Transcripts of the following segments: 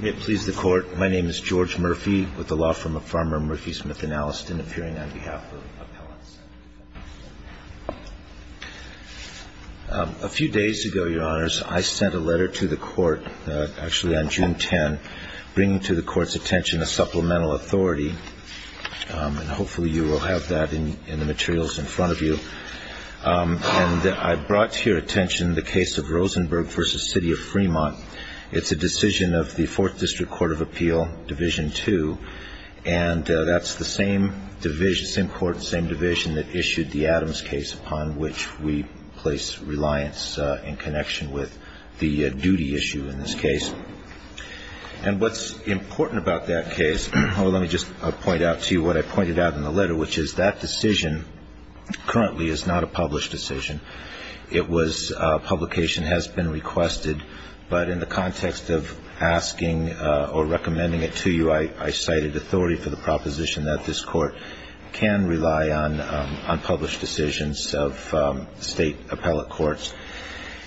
May it please the court, my name is George Murphy with the law firm of Farmer, Murphy, Smith & Alliston, appearing on behalf of Appellate Center. A few days ago, your honors, I sent a letter to the court, actually on June 10, bringing to the court's attention a supplemental authority. And hopefully you will have that in the materials in front of you. And I brought to your attention the case of Rosenberg v. City of Fremont. It's a decision of the 4th District Court of Appeal, Division 2. And that's the same court, same division that issued the Adams case upon which we place reliance in connection with the duty issue in this case. And what's important about that case, let me just point out to you what I pointed out in the letter, which is that decision currently is not a published decision. It was, publication has been requested, but in the context of asking or recommending it to you, I cited authority for the proposition that this court can rely on published decisions of state appellate courts.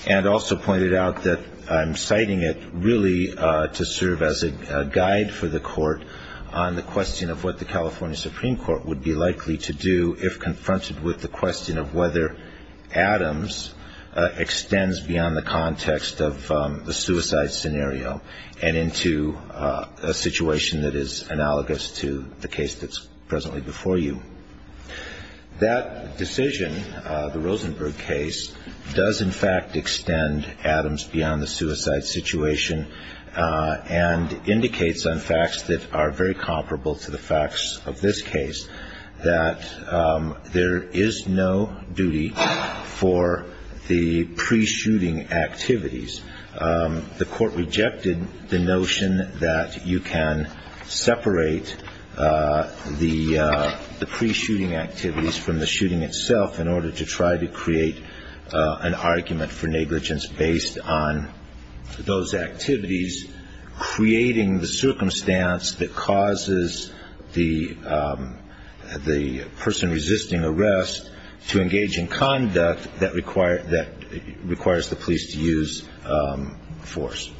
And also pointed out that I'm citing it really to serve as a guide for the court on the question of what the California Supreme Court would be likely to do if confronted with the question of whether Adams extends beyond the context of the suicide scenario and into a situation that is analogous to the case that's presently before you. That decision, the Rosenberg case, does in fact extend Adams beyond the suicide situation and indicates on facts that are very comparable to the facts of this case that there is no duty for the pre-shooting activities. The court rejected the notion that you can separate the pre-shooting activities from the shooting itself in order to try to create an argument for negligence based on those activities, creating the circumstance that causes the person resisting arrest to engage in conduct that requires the police to use force.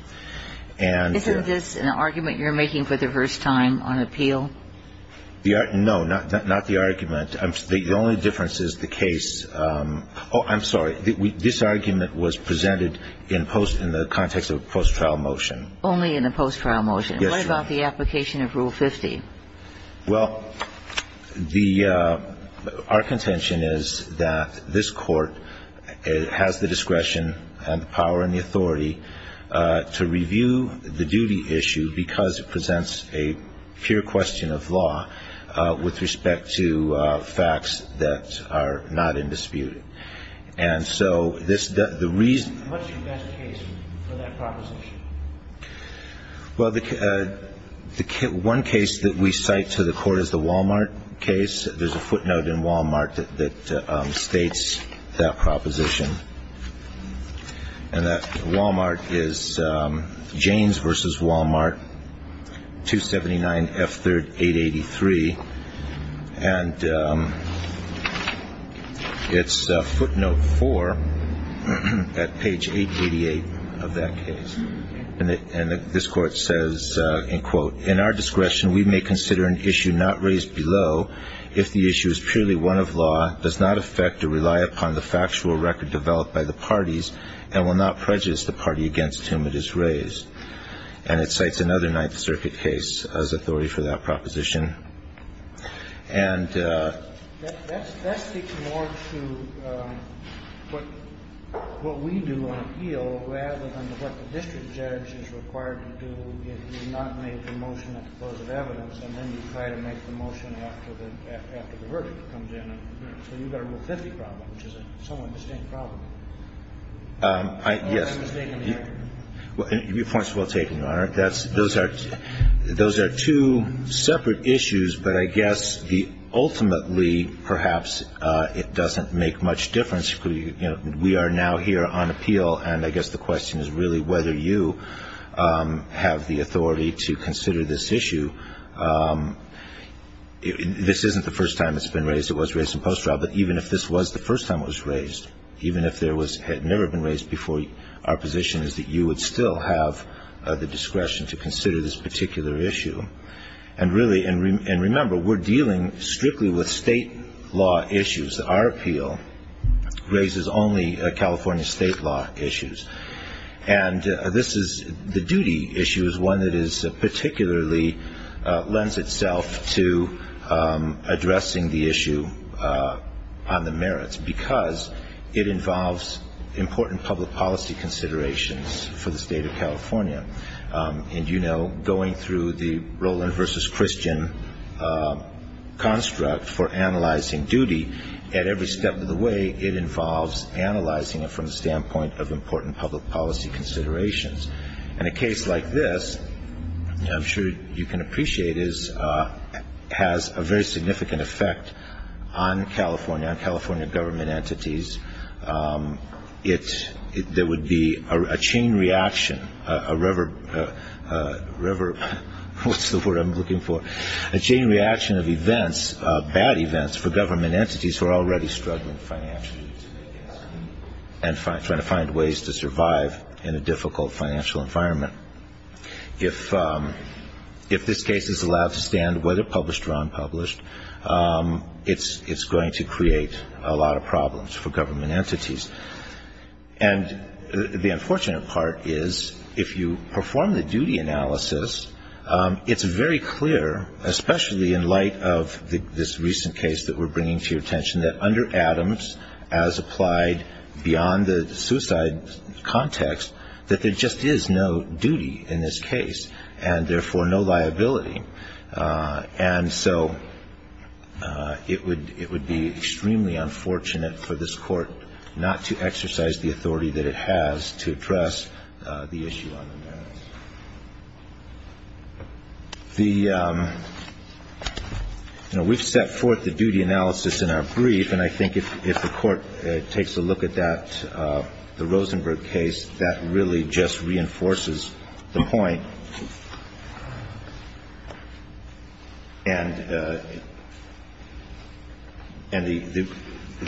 Isn't this an argument you're making for the first time on appeal? No, not the argument. The only difference is the case – oh, I'm sorry. This argument was presented in the context of a post-trial motion. Only in a post-trial motion. Yes, Your Honor. What about the application of Rule 50? Well, our contention is that this court has the discretion and the power and the authority to review the duty issue because it presents a pure question of law with respect to facts that are not in dispute. And so the reason – How much do you get a case for that proposition? Well, one case that we cite to the court is the Walmart case. There's a footnote in Walmart that states that proposition. And that Walmart is James v. Walmart, 279 F. 3rd, 883. And it's footnote 4 at page 888 of that case. And this court says, and quote, In our discretion, we may consider an issue not raised below if the issue is purely one of law, does not affect or rely upon the factual record developed by the parties, and will not prejudice the party against whom it is raised. And it cites another Ninth Circuit case as authority for that proposition. That speaks more to what we do on appeal rather than what the district judge is required to do if you've not made the motion at the close of evidence, and then you try to make the motion after the verdict comes in. So you've got a Rule 50 problem, which is a somewhat distinct problem. Yes. I'm just making the argument. Your point is well taken, Your Honor. Those are two separate issues, but I guess ultimately, perhaps, it doesn't make much difference. We are now here on appeal, and I guess the question is really whether you have the authority to consider this issue. This isn't the first time it's been raised. It was raised in post-trial. But even if this was the first time it was raised, even if it had never been raised before, our position is that you would still have the discretion to consider this particular issue. And remember, we're dealing strictly with state law issues. Our appeal raises only California state law issues. And the duty issue is one that particularly lends itself to addressing the issue on the merits because it involves important public policy considerations for the state of California. And you know, going through the Roland v. Christian construct for analyzing duty, at every step of the way it involves analyzing it from the standpoint of important public policy considerations. And a case like this, I'm sure you can appreciate, has a very significant effect on California, on California government entities. There would be a chain reaction, a river, what's the word I'm looking for, a chain reaction of events, bad events, for government entities who are already struggling financially and trying to find ways to survive in a difficult financial environment. If this case is allowed to stand, whether published or unpublished, it's going to create a lot of problems for government entities. And the unfortunate part is if you perform the duty analysis, it's very clear, especially in light of this recent case that we're bringing to your attention, that under Adams, as applied beyond the suicide context, that there just is no duty in this case and therefore no liability. And so it would be extremely unfortunate for this court not to exercise the authority that it has to address the issue on the merits. The, you know, we've set forth the duty analysis in our brief, and I think if the court takes a look at that, the Rosenberg case, that really just reinforces the point. And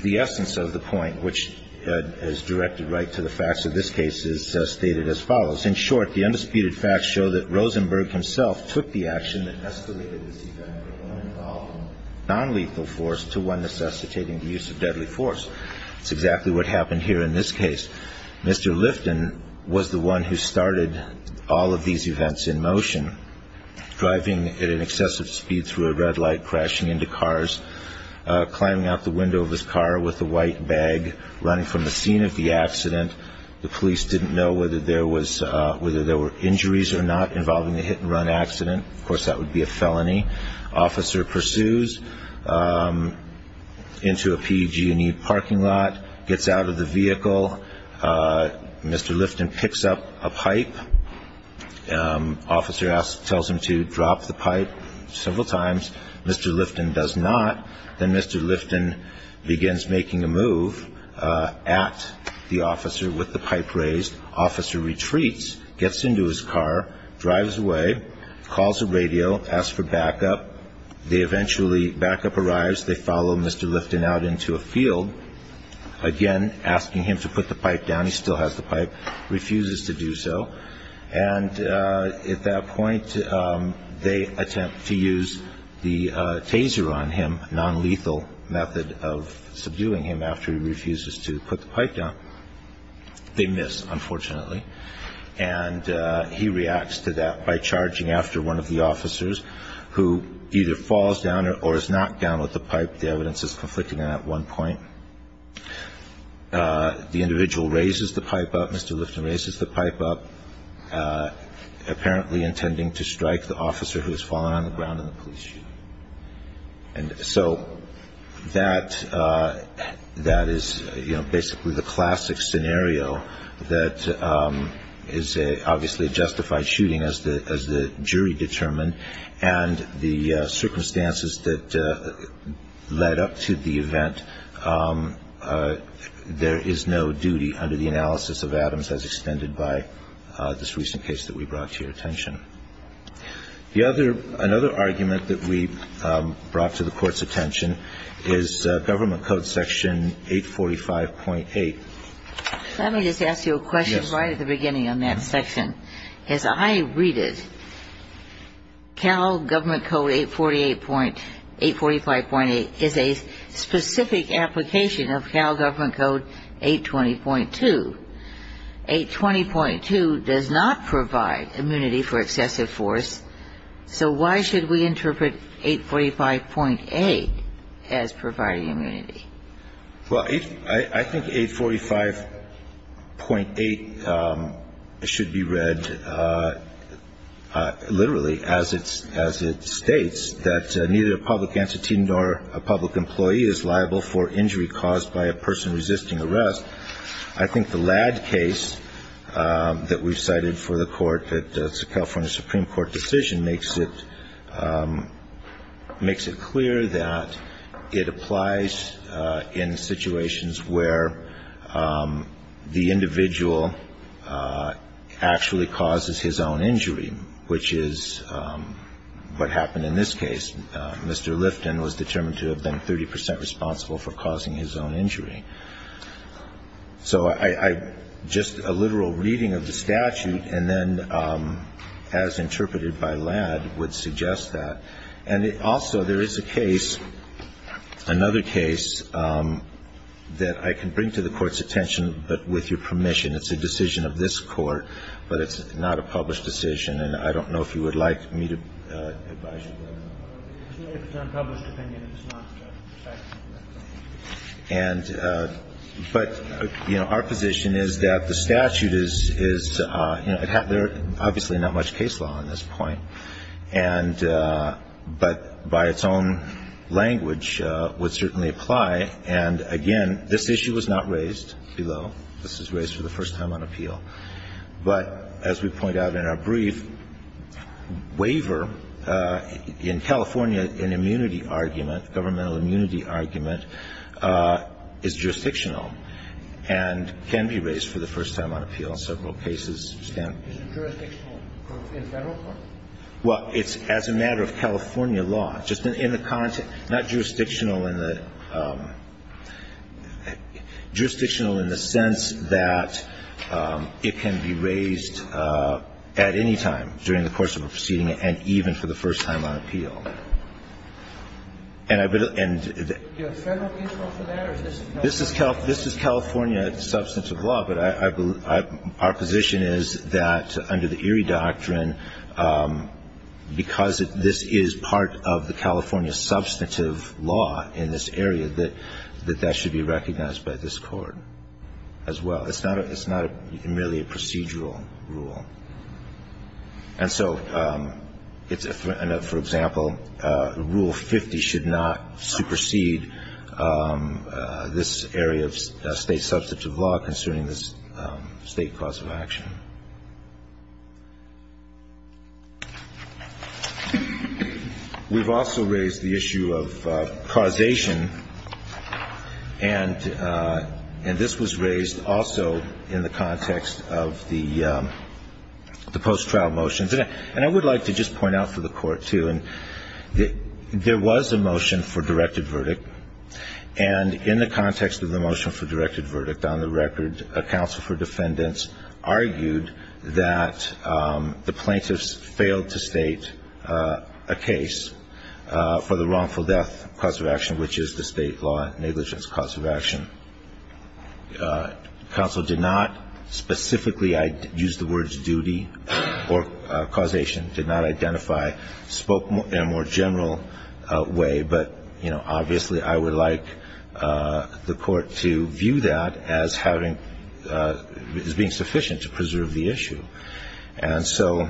the essence of the point, which is directed right to the facts of this case, is stated as follows. In short, the undisputed facts show that Rosenberg himself took the action that escalated this event from one involving nonlethal force to one necessitating the use of deadly force. That's exactly what happened here in this case. Mr. Lifton was the one who started all of these events in motion, driving at an excessive speed through a red light, crashing into cars, climbing out the window of his car with a white bag, running from the scene of the accident. The police didn't know whether there were injuries or not involving the hit-and-run accident. Of course, that would be a felony. Officer pursues into a PEG&E parking lot, gets out of the vehicle. Mr. Lifton picks up a pipe. Officer tells him to drop the pipe several times. Mr. Lifton does not. Then Mr. Lifton begins making a move at the officer with the pipe raised. Officer retreats, gets into his car, drives away, calls the radio, asks for backup. They eventually, backup arrives. They follow Mr. Lifton out into a field, again asking him to put the pipe down. He still has the pipe, refuses to do so. And at that point, they attempt to use the taser on him, a nonlethal method of subduing him after he refuses to put the pipe down. They miss, unfortunately. And he reacts to that by charging after one of the officers, who either falls down or is knocked down with the pipe. The evidence is conflicting on that one point. The individual raises the pipe up. Mr. Lifton raises the pipe up, apparently intending to strike the officer who has fallen on the ground in the police shooting. And so that is basically the classic scenario that is obviously a justified shooting, as the jury determined, and the circumstances that led up to the event. There is no duty under the analysis of Adams as extended by this recent case that we brought to your attention. Another argument that we brought to the Court's attention is Government Code Section 845.8. Let me just ask you a question right at the beginning on that section. As I read it, Cal Government Code 848.8, 845.8, is a specific application of Cal Government Code 820.2. 820.2 does not provide immunity for excessive force, so why should we interpret 845.8 as providing immunity? Well, I think 845.8 should be read literally, as it states that neither a public entity nor a public employee is liable for injury caused by a person resisting arrest. I think the Ladd case that we've cited for the California Supreme Court decision makes it clear that it applies in situations where the individual actually causes his own injury, which is what happened in this case. Mr. Lifton was determined to have been 30 percent responsible for causing his own injury. So just a literal reading of the statute, and then as interpreted by Ladd, would suggest that. And also there is a case, another case, that I can bring to the Court's attention, but with your permission. It's a decision of this Court, but it's not a published decision, and I don't know if you would like me to advise you. It's not a published opinion. It's not a statute. But, you know, our position is that the statute is, you know, there are obviously not much case law on this point, but by its own language would certainly apply. And, again, this issue was not raised below. This was raised for the first time on appeal. But as we point out in our brief, waiver in California, an immunity argument, governmental immunity argument, is jurisdictional and can be raised for the first time on appeal in several cases. Is it jurisdictional in federal court? Well, it's as a matter of California law, just in the context. Not jurisdictional in the sense that it can be raised at any time during the course of a proceeding and even for the first time on appeal. Do you have a federal case law for that? This is California substantive law, but our position is that under the Erie Doctrine, because this is part of the California substantive law in this area, that that should be recognized by this Court as well. It's not merely a procedural rule. And so, for example, Rule 50 should not supersede this area of state substantive law concerning the state cause of action. We've also raised the issue of causation, and this was raised also in the context of the post-trial motions. And I would like to just point out for the Court, too, that there was a motion for directed verdict, and in the context of the motion for directed verdict, on the record, a counsel for defendants argued that the plaintiffs failed to state a case for the wrongful death cause of action, which is the state law negligence cause of action. The counsel did not specifically use the words duty or causation, did not identify, spoke in a more general way, but, you know, obviously I would like the Court to view that as being sufficient to preserve the issue. And so,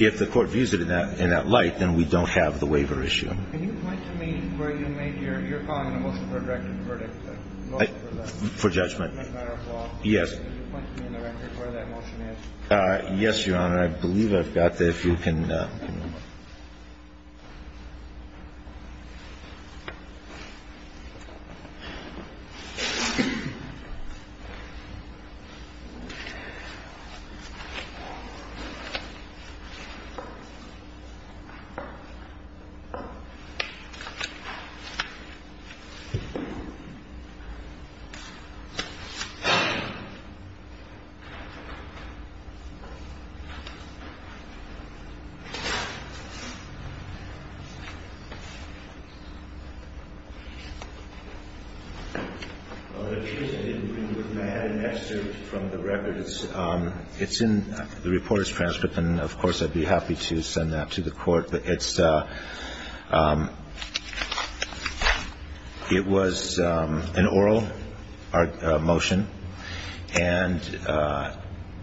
if the Court views it in that light, then we don't have the waiver issue. Can you point to me where you made your comment on the motion for a directed verdict? For judgment. Yes. Can you point to me on the record where that motion is? Yes, Your Honor. I believe I've got the, if you can. Thank you, Your Honor. I had an excerpt from the record. It's in the reporter's transcript, and, of course, I'd be happy to send that to the Court. It's, it was an oral motion, and,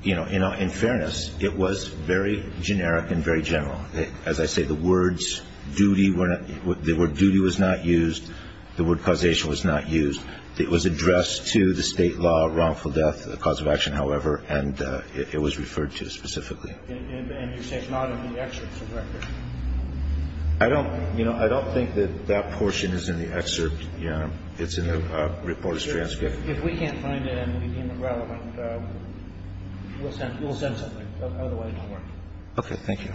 you know, in fairness, it was very generic and very general. As I say, the words duty were not, the word duty was not used. The word causation was not used. It was addressed to the state law wrongful death cause of action, however, and it was referred to specifically. And you're saying it's not in the excerpt from the record? I don't, you know, I don't think that that portion is in the excerpt. It's in the reporter's transcript. If we can't find it and it became irrelevant, we'll send something. Otherwise, don't worry. Okay. Thank you,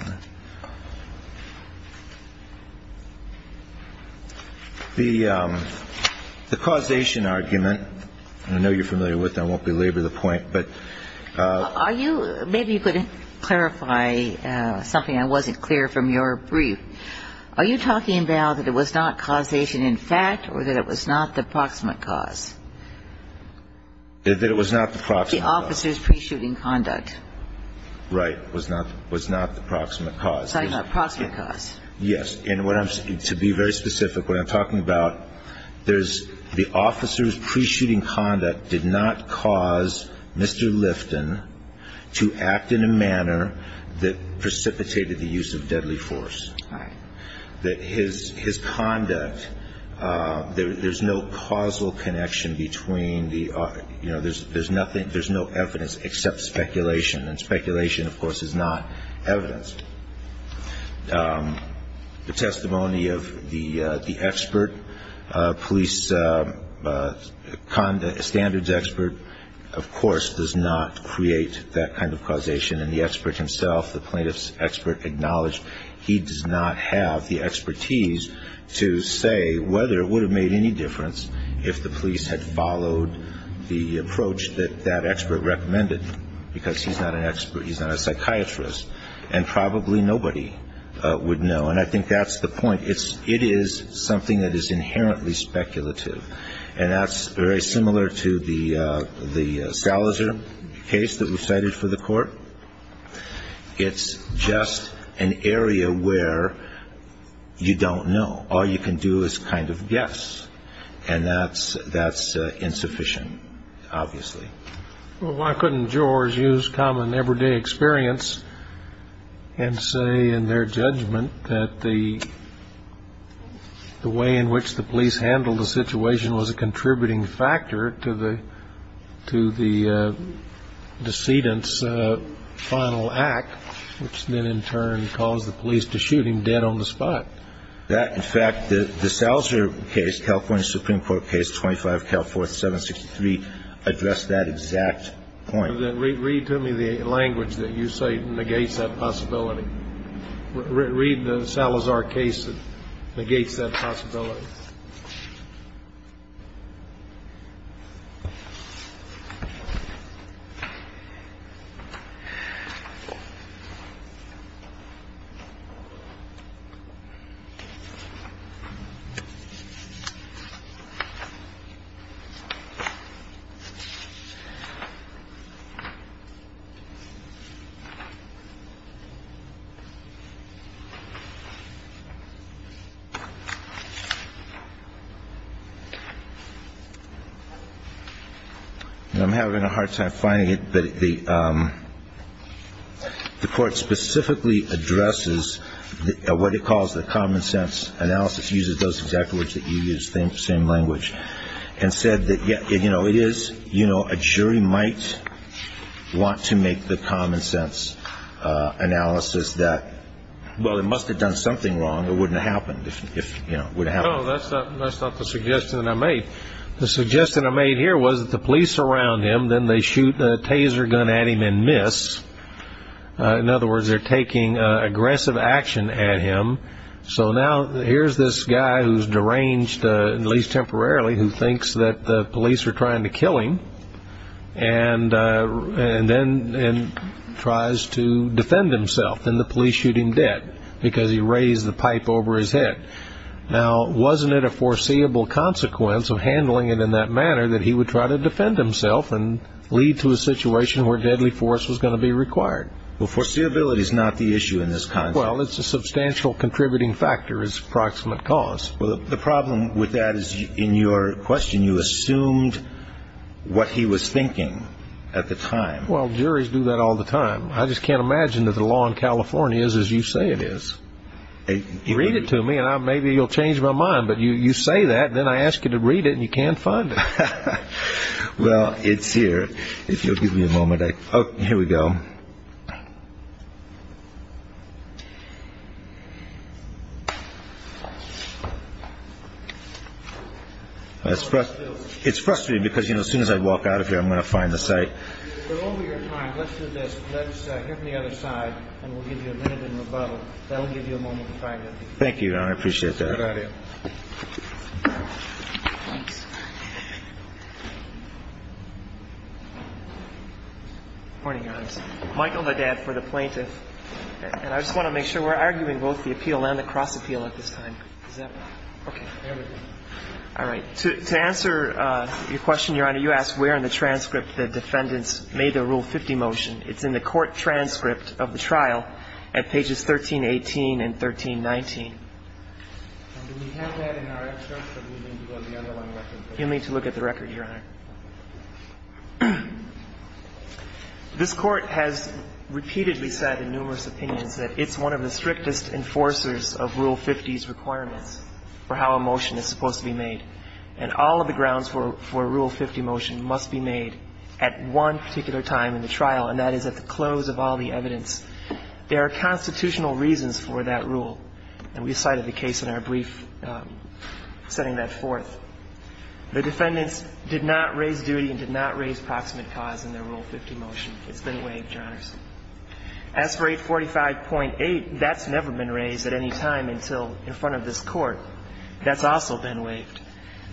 Your Honor. The causation argument, I know you're familiar with that. I won't belabor the point, but. Are you, maybe you could clarify something I wasn't clear from your brief. Are you talking now that it was not causation in fact or that it was not the proximate cause? That it was not the proximate cause. The officer's pre-shooting conduct. Right. Was not the proximate cause. Proximate cause. Yes. And to be very specific, what I'm talking about, there's the officer's pre-shooting conduct did not cause Mr. Lifton to act in a manner that precipitated the use of deadly force. Right. That his conduct, there's no causal connection between the, you know, there's nothing, there's no evidence except speculation. And speculation, of course, is not evidence. The testimony of the expert, police standards expert, of course, does not create that kind of causation. And the expert himself, the plaintiff's expert, acknowledged he does not have the expertise to say whether it would have made any difference if the police had followed the approach that that expert recommended. Because he's not an expert. He's not a psychiatrist. And probably nobody would know. And I think that's the point. It is something that is inherently speculative. And that's very similar to the Salazer case that was cited for the court. It's just an area where you don't know. All you can do is kind of guess. And that's insufficient, obviously. Well, why couldn't George use common everyday experience and say in their judgment that the way in which the police handled the situation was a contributing factor to the decedent's final act, which then in turn caused the police to shoot him dead on the spot? That, in fact, the Salazer case, California Supreme Court case 25 Calforth 763, addressed that exact point. Read to me the language that you cite negates that possibility. Read the Salazer case that negates that possibility. Thank you. I'm having a hard time finding it. But the court specifically addresses what it calls the common sense analysis, uses those exact words that you use, same language, and said that, you know, it is, you know, a jury might want to make the common sense analysis that, well, it must have done something wrong or wouldn't have happened if, you know, it would have happened. No, that's not the suggestion that I made. The suggestion I made here was that the police surround him, then they shoot a taser gun at him and miss. In other words, they're taking aggressive action at him. So now here's this guy who's deranged, at least temporarily, who thinks that the police are trying to kill him, and then tries to defend himself. Then the police shoot him dead because he raised the pipe over his head. Now, wasn't it a foreseeable consequence of handling it in that manner that he would try to defend himself and lead to a situation where deadly force was going to be required? Well, foreseeability is not the issue in this context. Well, it's a substantial contributing factor as approximate cause. Well, the problem with that is, in your question, you assumed what he was thinking at the time. Well, juries do that all the time. I just can't imagine that the law in California is as you say it is. Read it to me, and maybe you'll change my mind. But you say that, and then I ask you to read it, and you can't find it. Well, it's here. If you'll give me a moment. Oh, here we go. It's frustrating because as soon as I walk out of here, I'm going to find the site. We're over your time. Let's do this. Let's hear from the other side, and we'll give you a minute in rebuttal. Thank you, Your Honor. I appreciate that. Good idea. Good morning, Your Honor. Michael Ledad for the plaintiff. And I just want to make sure we're arguing both the appeal and the cross appeal at this time. Is that right? Okay. There we go. All right. To answer your question, Your Honor, you asked where in the transcript the defendants made their Rule 50 motion. It's in the court transcript of the trial at pages 1318 and 1319. And do we have that in our extract, or do we need to go to the other one? You'll need to look at the record, Your Honor. This Court has repeatedly said in numerous opinions that it's one of the strictest enforcers of Rule 50's requirements for how a motion is supposed to be made. And all of the grounds for a Rule 50 motion must be made at one particular time in the trial, and that is at the close of all the evidence. There are constitutional reasons for that rule, and we cited the case in our brief setting that forth. The defendants did not raise duty and did not raise proximate cause in their Rule 50 motion. It's been waived, Your Honors. As for 845.8, that's never been raised at any time until in front of this Court. That's also been waived.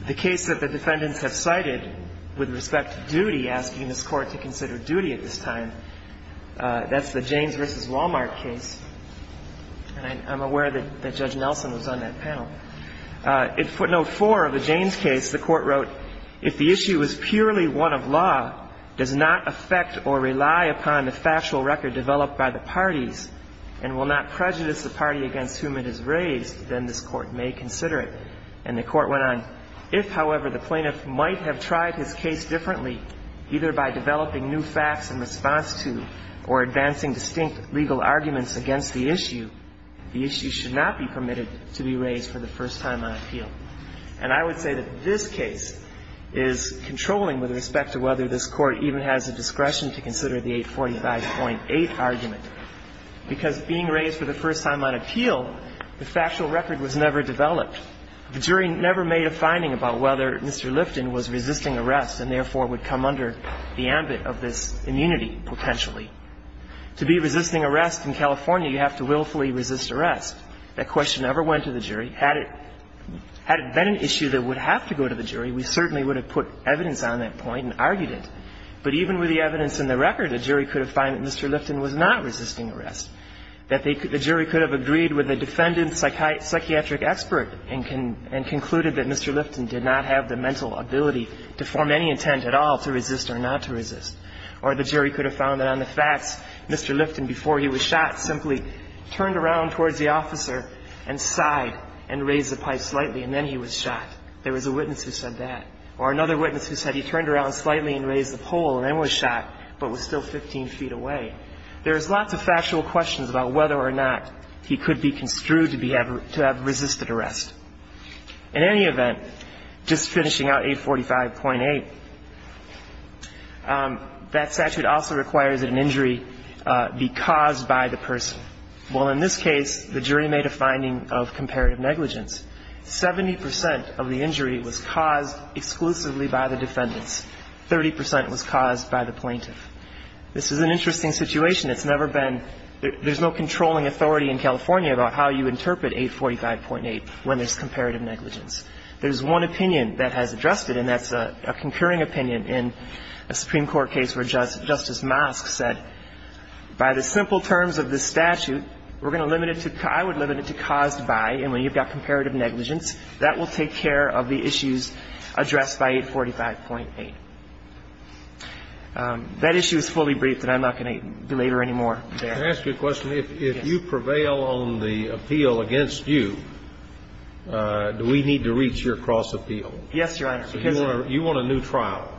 The case that the defendants have cited with respect to duty, asking this Court to consider duty at this time, that's the Jaynes v. Walmart case. And I'm aware that Judge Nelson was on that panel. In footnote 4 of the Jaynes case, the Court wrote, if the issue is purely one of law, does not affect or rely upon the factual record developed by the parties, and will not prejudice the party against whom it is raised, then this Court may consider it. And the Court went on, if, however, the plaintiff might have tried his case differently, either by developing new facts in response to or advancing distinct legal arguments against the issue, the issue should not be permitted to be raised for the first time on appeal. And I would say that this case is controlling with respect to whether this Court even has the discretion to consider the 845.8 argument, because being raised for the first time on appeal, the factual record was never developed. The jury never made a finding about whether Mr. Lifton was resisting arrest and therefore would come under the ambit of this immunity potentially. To be resisting arrest in California, you have to willfully resist arrest. That question never went to the jury. Had it been an issue that would have to go to the jury, we certainly would have put evidence on that point and argued it. But even with the evidence in the record, a jury could have found that Mr. Lifton was not resisting arrest. That the jury could have agreed with the defendant's psychiatric expert and concluded that Mr. Lifton did not have the mental ability to form any intent at all to resist or not to resist. Or the jury could have found that on the facts, Mr. Lifton, before he was shot, simply turned around towards the officer and sighed and raised the pipe slightly, and then he was shot. There was a witness who said that. Or another witness who said he turned around slightly and raised the pole and then was shot, but was still 15 feet away. There's lots of factual questions about whether or not he could be construed to have resisted arrest. In any event, just finishing out 845.8, that statute also requires that an injury be caused by the person. Well, in this case, the jury made a finding of comparative negligence. Seventy percent of the injury was caused exclusively by the defendants. Thirty percent was caused by the plaintiff. This is an interesting situation. It's never been – there's no controlling authority in California about how you interpret 845.8 when there's comparative negligence. There's one opinion that has addressed it, and that's a concurring opinion in a Supreme Court case where Justice Mosk said, by the simple terms of this statute, we're going to limit it to – I would limit it to caused by, and when you've got comparative negligence, that will take care of the issues addressed by 845.8. That issue is fully briefed, and I'm not going to belabor any more. Can I ask you a question? If you prevail on the appeal against you, do we need to reach your cross-appeal? Yes, Your Honor. So you want a new trial?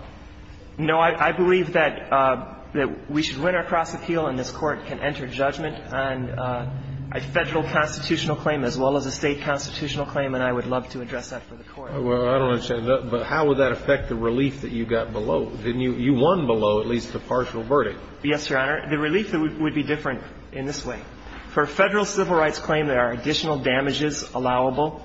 No. I believe that we should win our cross-appeal and this Court can enter judgment on a Federal constitutional claim as well as a State constitutional claim, and I would love to address that for the Court. Well, I don't understand. But how would that affect the relief that you got below? You won below at least the partial verdict. Yes, Your Honor. The relief would be different in this way. For a Federal civil rights claim, there are additional damages allowable.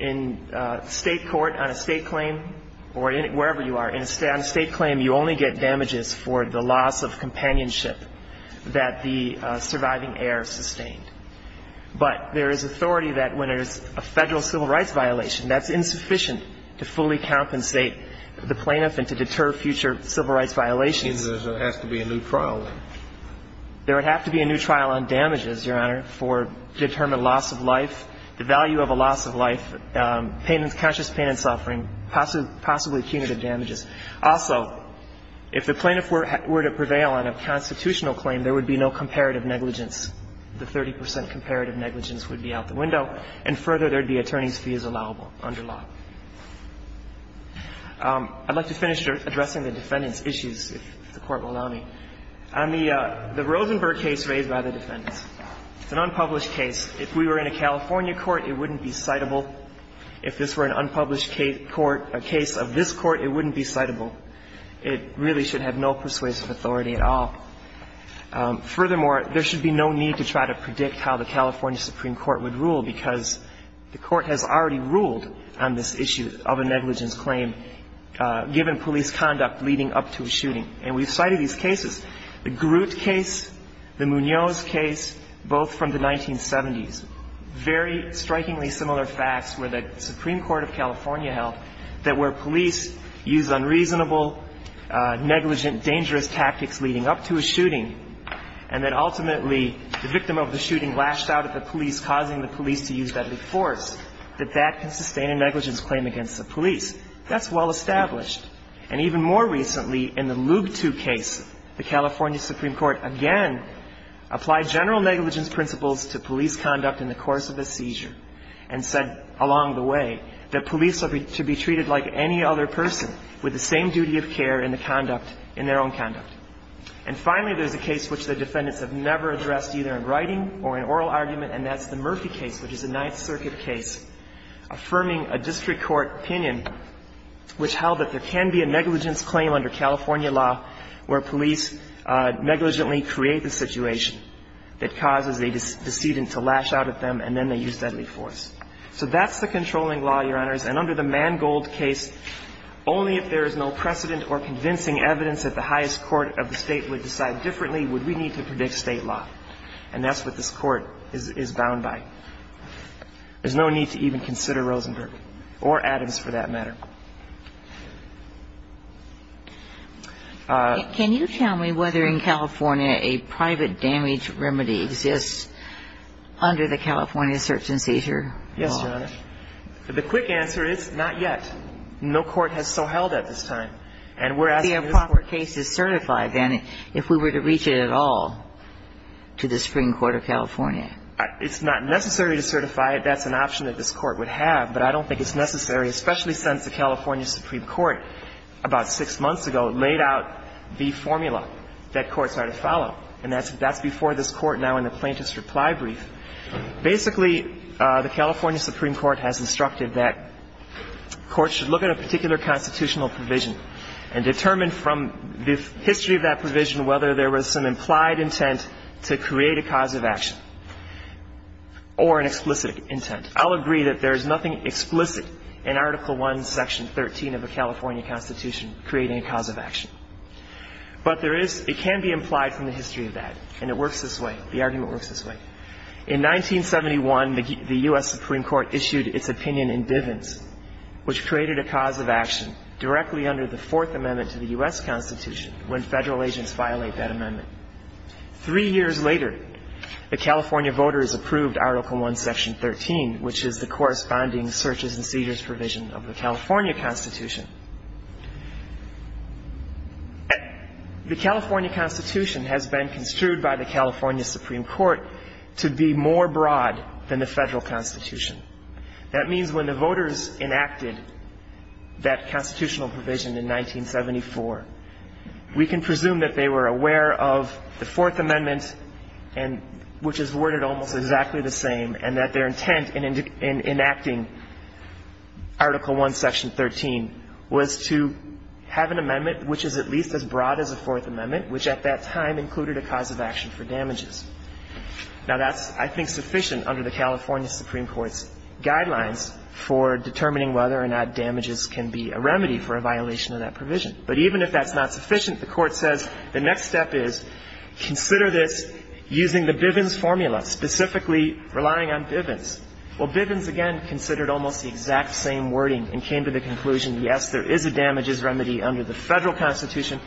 In State court, on a State claim, or wherever you are, on a State claim, you only get damages for the loss of companionship that the surviving heir sustained. But there is authority that when there's a Federal civil rights violation, that's insufficient to fully compensate the plaintiff and to deter future civil rights violations. You mean there has to be a new trial then? There would have to be a new trial on damages, Your Honor, for determined loss of life, the value of a loss of life, pain and – conscious pain and suffering, possibly punitive damages. Also, if the plaintiff were to prevail on a constitutional claim, there would be no negligence. And if the plaintiff is not to prevail on a constitutional claim, there would be no negligence. So there would be a 100% comparative negligence would be out the window, and further there would be attorney's fees allowable under law. I'd like to finish addressing the defendant's issues, if the Court will allow me. On the Rosenberg case raised by the defendants, it's an unpublished case. If we were in a California court, it wouldn't be citable. If this were an unpublished case court, a case of this court, it wouldn't be citable. It really should have no persuasive authority at all. Furthermore, there should be no need to try to predict how the California Supreme Court would rule, because the Court has already ruled on this issue of a negligence claim, given police conduct leading up to a shooting. And we've cited these cases, the Groot case, the Munoz case, both from the 1970s. Very strikingly similar facts were that the Supreme Court of California held that where police use unreasonable, negligent, dangerous tactics leading up to a shooting and that ultimately the victim of the shooting lashed out at the police, causing the police to use deadly force, that that can sustain a negligence claim against the police. That's well established. And even more recently, in the Lube II case, the California Supreme Court again applied general negligence principles to police conduct in the course of a seizure and said along the way that police are to be treated like any other person with the same duty of care in the conduct, in their own conduct. And finally, there's a case which the defendants have never addressed either in writing or in oral argument, and that's the Murphy case, which is a Ninth Circuit case, affirming a district court opinion which held that there can be a negligence claim under California law where police negligently create the situation that causes a decedent to lash out at them and then they use deadly force. So that's the controlling law, Your Honors. And under the Mangold case, only if there is no precedent or convincing evidence that the highest court of the State would decide differently would we need to predict State law. And that's what this Court is bound by. There's no need to even consider Rosenberg or Adams for that matter. Can you tell me whether in California a private damage remedy exists under the California search-and-seizure law? Yes, Your Honor. The quick answer is not yet. No court has so held at this time. And we're asking this Court. The improper case is certified, then, if we were to reach it at all to the Supreme Court of California. It's not necessary to certify it. That's an option that this Court would have, but I don't think it's necessary, especially since the California Supreme Court, about six months ago, laid out the formula that courts are to follow. And that's before this Court now in the plaintiff's reply brief. Basically, the California Supreme Court has instructed that courts should look at a particular constitutional provision and determine from the history of that provision whether there was some implied intent to create a cause of action or an explicit intent. I'll agree that there is nothing explicit in Article I, Section 13 of the California Constitution creating a cause of action. But it can be implied from the history of that. And it works this way. The argument works this way. In 1971, the U.S. Supreme Court issued its opinion in Bivens, which created a cause of action directly under the Fourth Amendment to the U.S. Constitution when federal agents violate that amendment. Three years later, the California voters approved Article I, Section 13, which is the corresponding searches and seizures provision of the California Constitution. The California Constitution has been construed by the California Supreme Court to be more broad than the federal Constitution. That means when the voters enacted that constitutional provision in 1974, we can presume that they were aware of the Fourth Amendment, which is worded almost exactly the same, and that their intent in enacting Article I, Section 13 was to have an amendment which is at least as broad as the Fourth Amendment, which at that time included a cause of action for damages. Now, that's, I think, sufficient under the California Supreme Court's guidelines for determining whether or not damages can be a remedy for a violation of that provision. But even if that's not sufficient, the Court says the next step is consider this using the Bivens formula, specifically relying on Bivens. Well, Bivens, again, considered almost the exact same wording and came to the conclusion, yes, there is a damages remedy under the federal Constitution,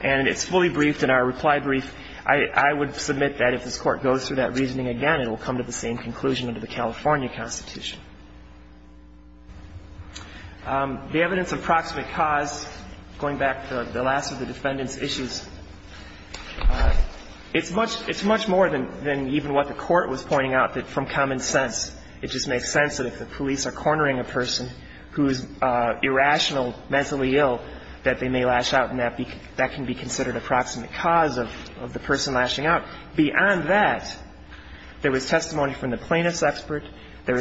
and it's fully briefed in our reply brief. I would submit that if this Court goes through that reasoning again, it will come to the same conclusion under the California Constitution. The evidence of proximate cause, going back to the last of the defendant's issues, it's much more than even what the Court was pointing out, that from common sense, it just makes sense that if the police are cornering a person who is irrational, mentally ill, that they may lash out, and that can be considered a proximate cause of the person lashing out. Beyond that, there was testimony from the plaintiff's expert. There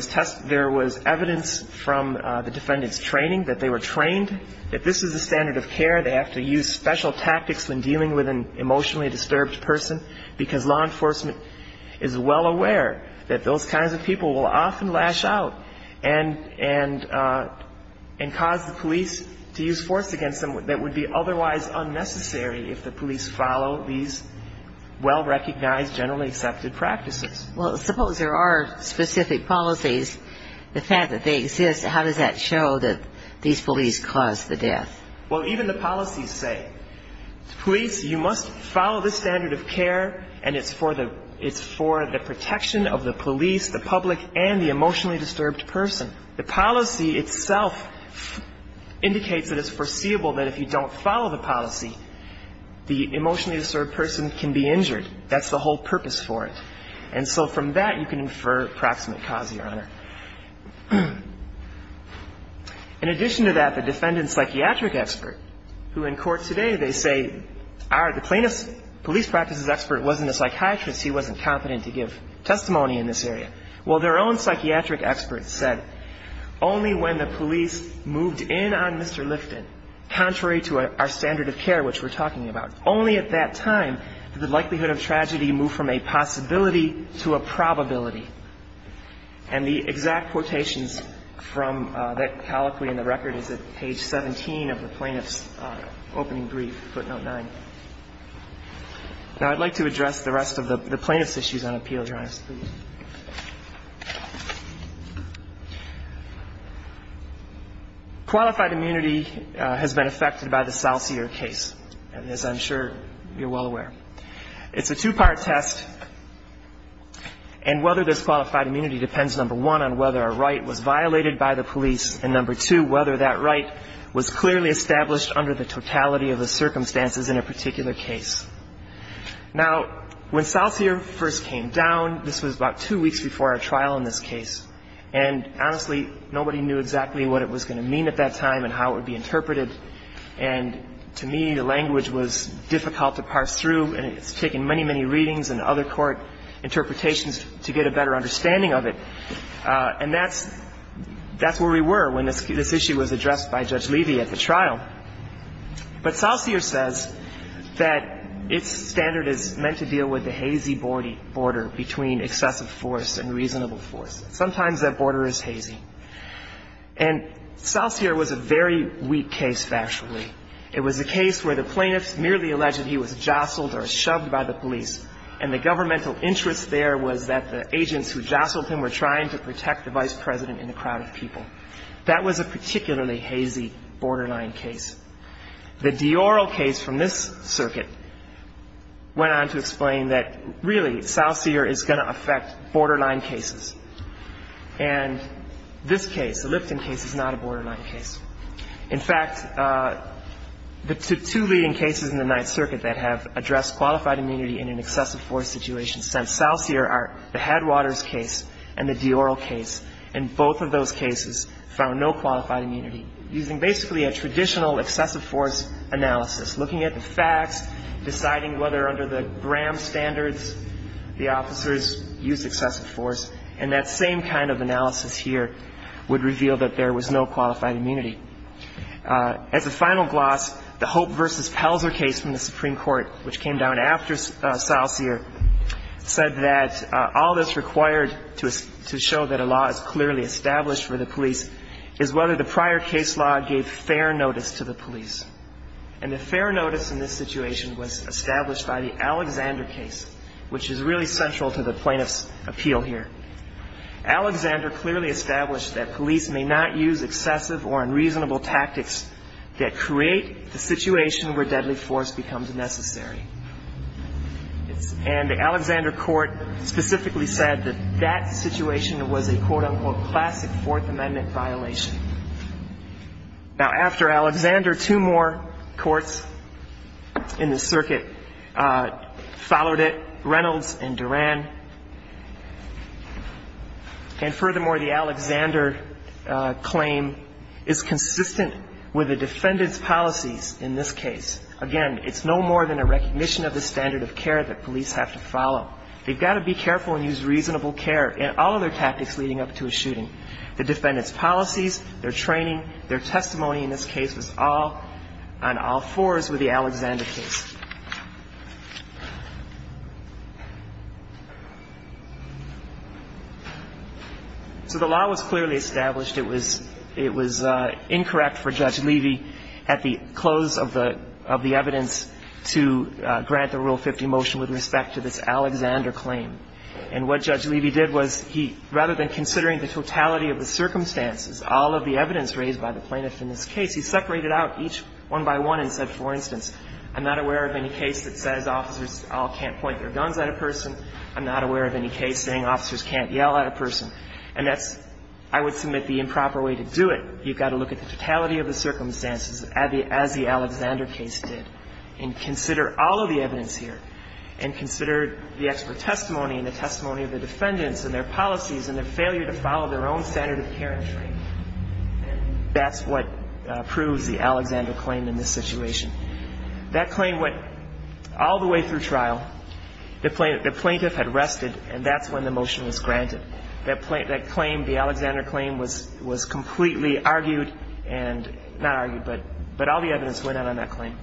was evidence from the defendant's training that they were trained, that this is a standard of care, they have to use special tactics when dealing with an emotionally disturbed person, because law enforcement is well aware that those kinds of people will often lash out and cause the police to use force against them that would be otherwise unnecessary if the police follow these well-recognized, generally accepted practices. Well, suppose there are specific policies. The fact that they exist, how does that show that these police caused the death? Well, even the policies say, police, you must follow this standard of care, and it's for the protection of the police, the public, and the emotionally disturbed person. The policy itself indicates that it's foreseeable that if you don't follow the policy, the emotionally disturbed person can be injured. That's the whole purpose for it. And so from that, you can infer proximate cause, Your Honor. In addition to that, the defendant's psychiatric expert, who in court today, they say, the plaintiff's police practices expert wasn't a psychiatrist. He wasn't competent to give testimony in this area. Well, their own psychiatric expert said, only when the police moved in on Mr. Lifton, contrary to our standard of care, which we're talking about, only at that time did the And the exact quotations from that colloquy in the record is at page 17 of the plaintiff's opening brief, footnote 9. Now, I'd like to address the rest of the plaintiff's issues on appeal, Your Honor. Qualified immunity has been affected by the Salsier case, and as I'm sure you're well aware. It's a two-part test, and whether there's qualified immunity depends, number one, on whether a right was violated by the police, and number two, whether that right was clearly established under the totality of the circumstances in a particular case. Now, when Salsier first came down, this was about two weeks before our trial in this case, and honestly, nobody knew exactly what it was going to mean at that time and how it would be interpreted. And to me, the language was difficult to parse through, and it's taken many, many readings and other court interpretations to get a better understanding of it. And that's where we were when this issue was addressed by Judge Levy at the trial. But Salsier says that its standard is meant to deal with the hazy border between excessive force Sometimes that border is hazy. And Salsier was a very weak case, factually. It was a case where the plaintiffs merely alleged he was jostled or shoved by the police, and the governmental interest there was that the agents who jostled him were trying to protect the Vice President and the crowd of people. That was a particularly hazy, borderline case. The Dioro case from this circuit went on to explain that, really, Salsier is going to affect borderline cases. And this case, the Lipton case, is not a borderline case. In fact, the two leading cases in the Ninth Circuit that have addressed qualified immunity in an excessive force situation since Salsier are the Headwaters case and the Dioro case. And both of those cases found no qualified immunity using basically a traditional excessive force analysis, looking at the facts, deciding whether, under the Graham standards, the officers use excessive force. And that same kind of analysis here would reveal that there was no qualified immunity. As a final gloss, the Hope v. Pelzer case from the Supreme Court, which came down after Salsier, said that all that's required to show that a law is clearly established for the police is whether the prior case law gave fair notice to the police. And the fair notice in this situation was established by the Alexander case, which is really central to the plaintiff's appeal here. Alexander clearly established that police may not use excessive or unreasonable tactics that create the situation where deadly force becomes necessary. And the Alexander court specifically said that that situation was a quote-unquote classic Fourth Amendment violation. Now, after Alexander, two more courts in the circuit followed it, Reynolds and Duran. And furthermore, the Alexander claim is consistent with the defendant's policies in this case. Again, it's no more than a recognition of the standard of care that police have to follow. They've got to be careful and use reasonable care in all of their tactics leading up to a shooting. The defendant's policies, their training, their testimony in this case was all on all fours with the Alexander case. So the law was clearly established. It was incorrect for Judge Levy at the close of the evidence to grant the Rule 50 motion with respect to this Alexander claim. And what Judge Levy did was he, rather than considering the totality of the circumstances, all of the evidence raised by the plaintiff in this case, he separated out each one by one and said, for instance, I'm not aware of any case that says officers all can't point their guns at a person. I'm not aware of any case saying officers can't yell at a person. And that's, I would submit, the improper way to do it. You've got to look at the totality of the circumstances as the Alexander case did and consider all of the evidence here and consider the expert testimony and the testimony of the defendants and their policies and their failure to follow their own standard of care and training. And that's what proves the Alexander claim in this situation. That claim went all the way through trial. The plaintiff had rested, and that's when the motion was granted. That claim, the Alexander claim, was completely argued and not argued, but all the evidence went out on that claim.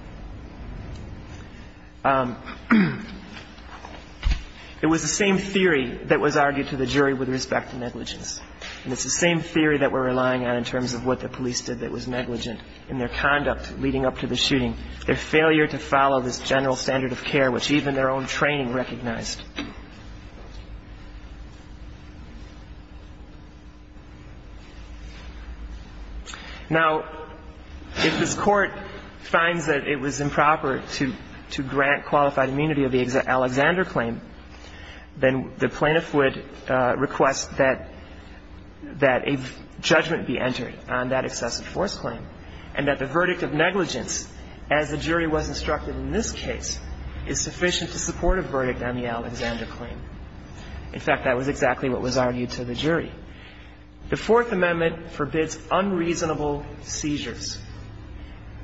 It was the same theory that was argued to the jury with respect to negligence. And it's the same theory that we're relying on in terms of what the police did that was negligent in their conduct leading up to the shooting, their failure to follow this general standard of care, which even their own training recognized. Now, if this Court finds that it was improper to grant qualified immunity of the Alexander claim, then the plaintiff would request that a judgment be entered on that excessive force claim and that the verdict of negligence, as the jury was instructed in this case, is sufficient to support a verdict on the Alexander claim. In fact, that was exactly what was argued to the jury. The Fourth Amendment forbids unreasonable seizures.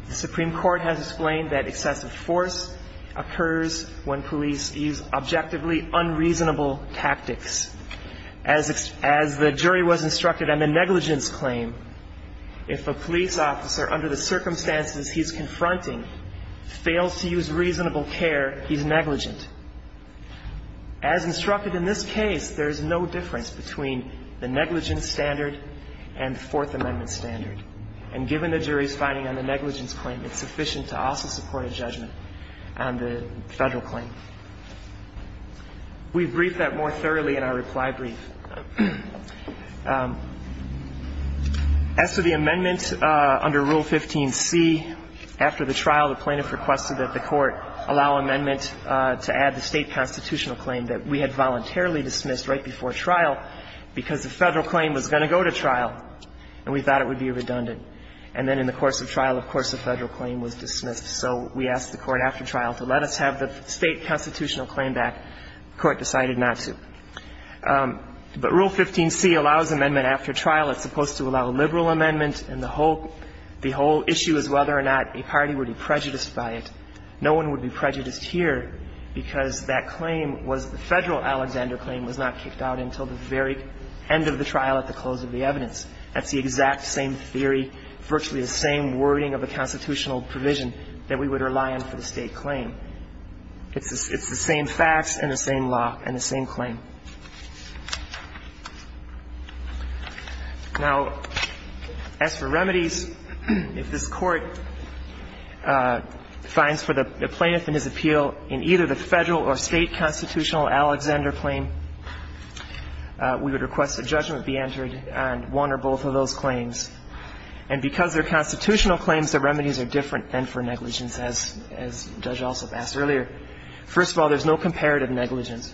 The Supreme Court has explained that excessive force occurs when police use objectively unreasonable tactics. As the jury was instructed on the negligence claim, if a police officer, under the circumstances he's confronting, fails to use reasonable care, he's negligent. As instructed in this case, there's no difference between the negligence standard and the Fourth Amendment standard. And given the jury's finding on the negligence claim, it's sufficient to also support a judgment on the Federal claim. We've briefed that more thoroughly in our reply brief. As to the amendment under Rule 15c, after the trial, the plaintiff requested that the Court allow amendment to add the State constitutional claim that we had voluntarily dismissed right before trial because the Federal claim was going to go to trial and we thought it would be redundant. And then in the course of trial, of course, the Federal claim was dismissed. So we asked the Court after trial to let us have the State constitutional claim back. The Court decided not to. But Rule 15c allows amendment after trial. It's supposed to allow a liberal amendment. And the whole issue is whether or not a party would be prejudiced by it. No one would be prejudiced here because that claim was the Federal Alexander claim was not kicked out until the very end of the trial at the close of the evidence. That's the exact same theory, virtually the same wording of the constitutional provision that we would rely on for the State claim. It's the same facts and the same law and the same claim. Now, as for remedies, if this Court finds for the plaintiff in his appeal in either the Federal or State constitutional Alexander claim, we would request a judgment be entered on one or both of those claims. And because they're constitutional claims, the remedies are different than for negligence, as Judge Alsop asked earlier. First of all, there's no comparative negligence.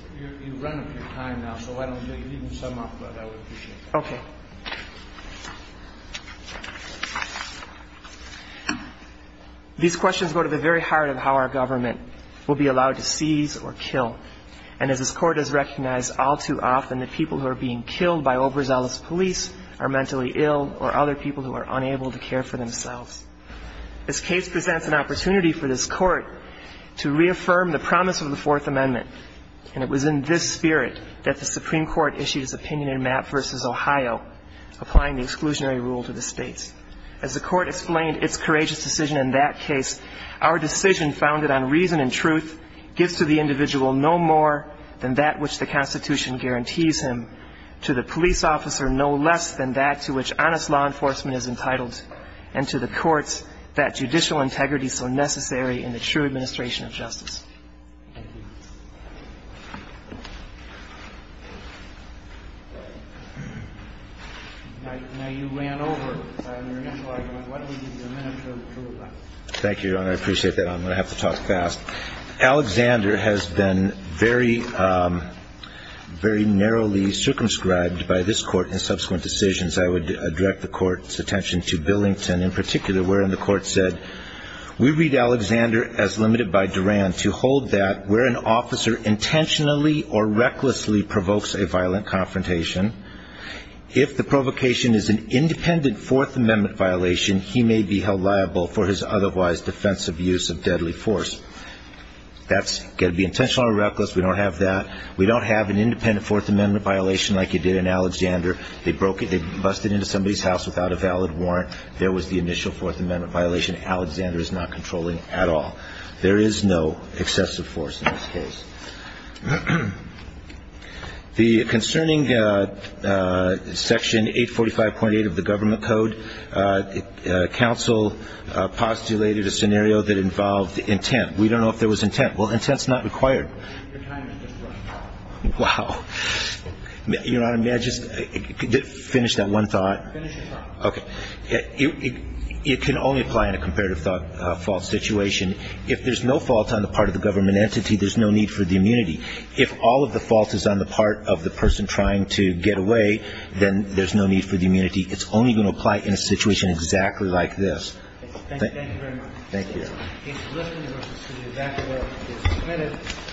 These questions go to the very heart of how our government will be allowed to seize or kill. And as this Court has recognized all too often, the people who are being killed by Oberzell's police are mentally ill or other people who are unable to care for themselves. This case presents an opportunity for this Court to reaffirm the promise of the Supreme Court issued its opinion in Mapp v. Ohio, applying the exclusionary rule to the States. As the Court explained its courageous decision in that case, our decision founded on reason and truth gives to the individual no more than that which the Constitution guarantees him, to the police officer no less than that to which honest law enforcement is entitled, and to the courts that judicial integrity so necessary in the true administration of justice. Thank you. Now you ran over. I'm going to give you a minute to approve that. Thank you, Your Honor. I appreciate that. I'm going to have to talk fast. Alexander has been very, very narrowly circumscribed by this Court in subsequent decisions. I would direct the Court's attention to Billington in particular, wherein the Court said, we read Alexander as limited by Duran to hold that where an officer intentionally or recklessly provokes a violent confrontation, if the provocation is an independent Fourth Amendment violation, he may be held liable for his otherwise defensive use of deadly force. That's going to be intentional or reckless. We don't have that. We don't have an independent Fourth Amendment violation like you did in Alexander. They broke it. They busted into somebody's house without a valid warrant. There was the initial Fourth Amendment violation. Alexander is not controlling at all. There is no excessive force in this case. The concerning Section 845.8 of the Government Code, counsel postulated a scenario that involved intent. We don't know if there was intent. Well, intent's not required. Your time has just run out. Wow. Your Honor, may I just finish that one thought? Finish your thought. Okay. It can only apply in a comparative fault situation. If there's no fault on the part of the government entity, there's no need for the immunity. If all of the fault is on the part of the person trying to get away, then there's no need for the immunity. It's only going to apply in a situation exactly like this. Thank you. Thank you very much.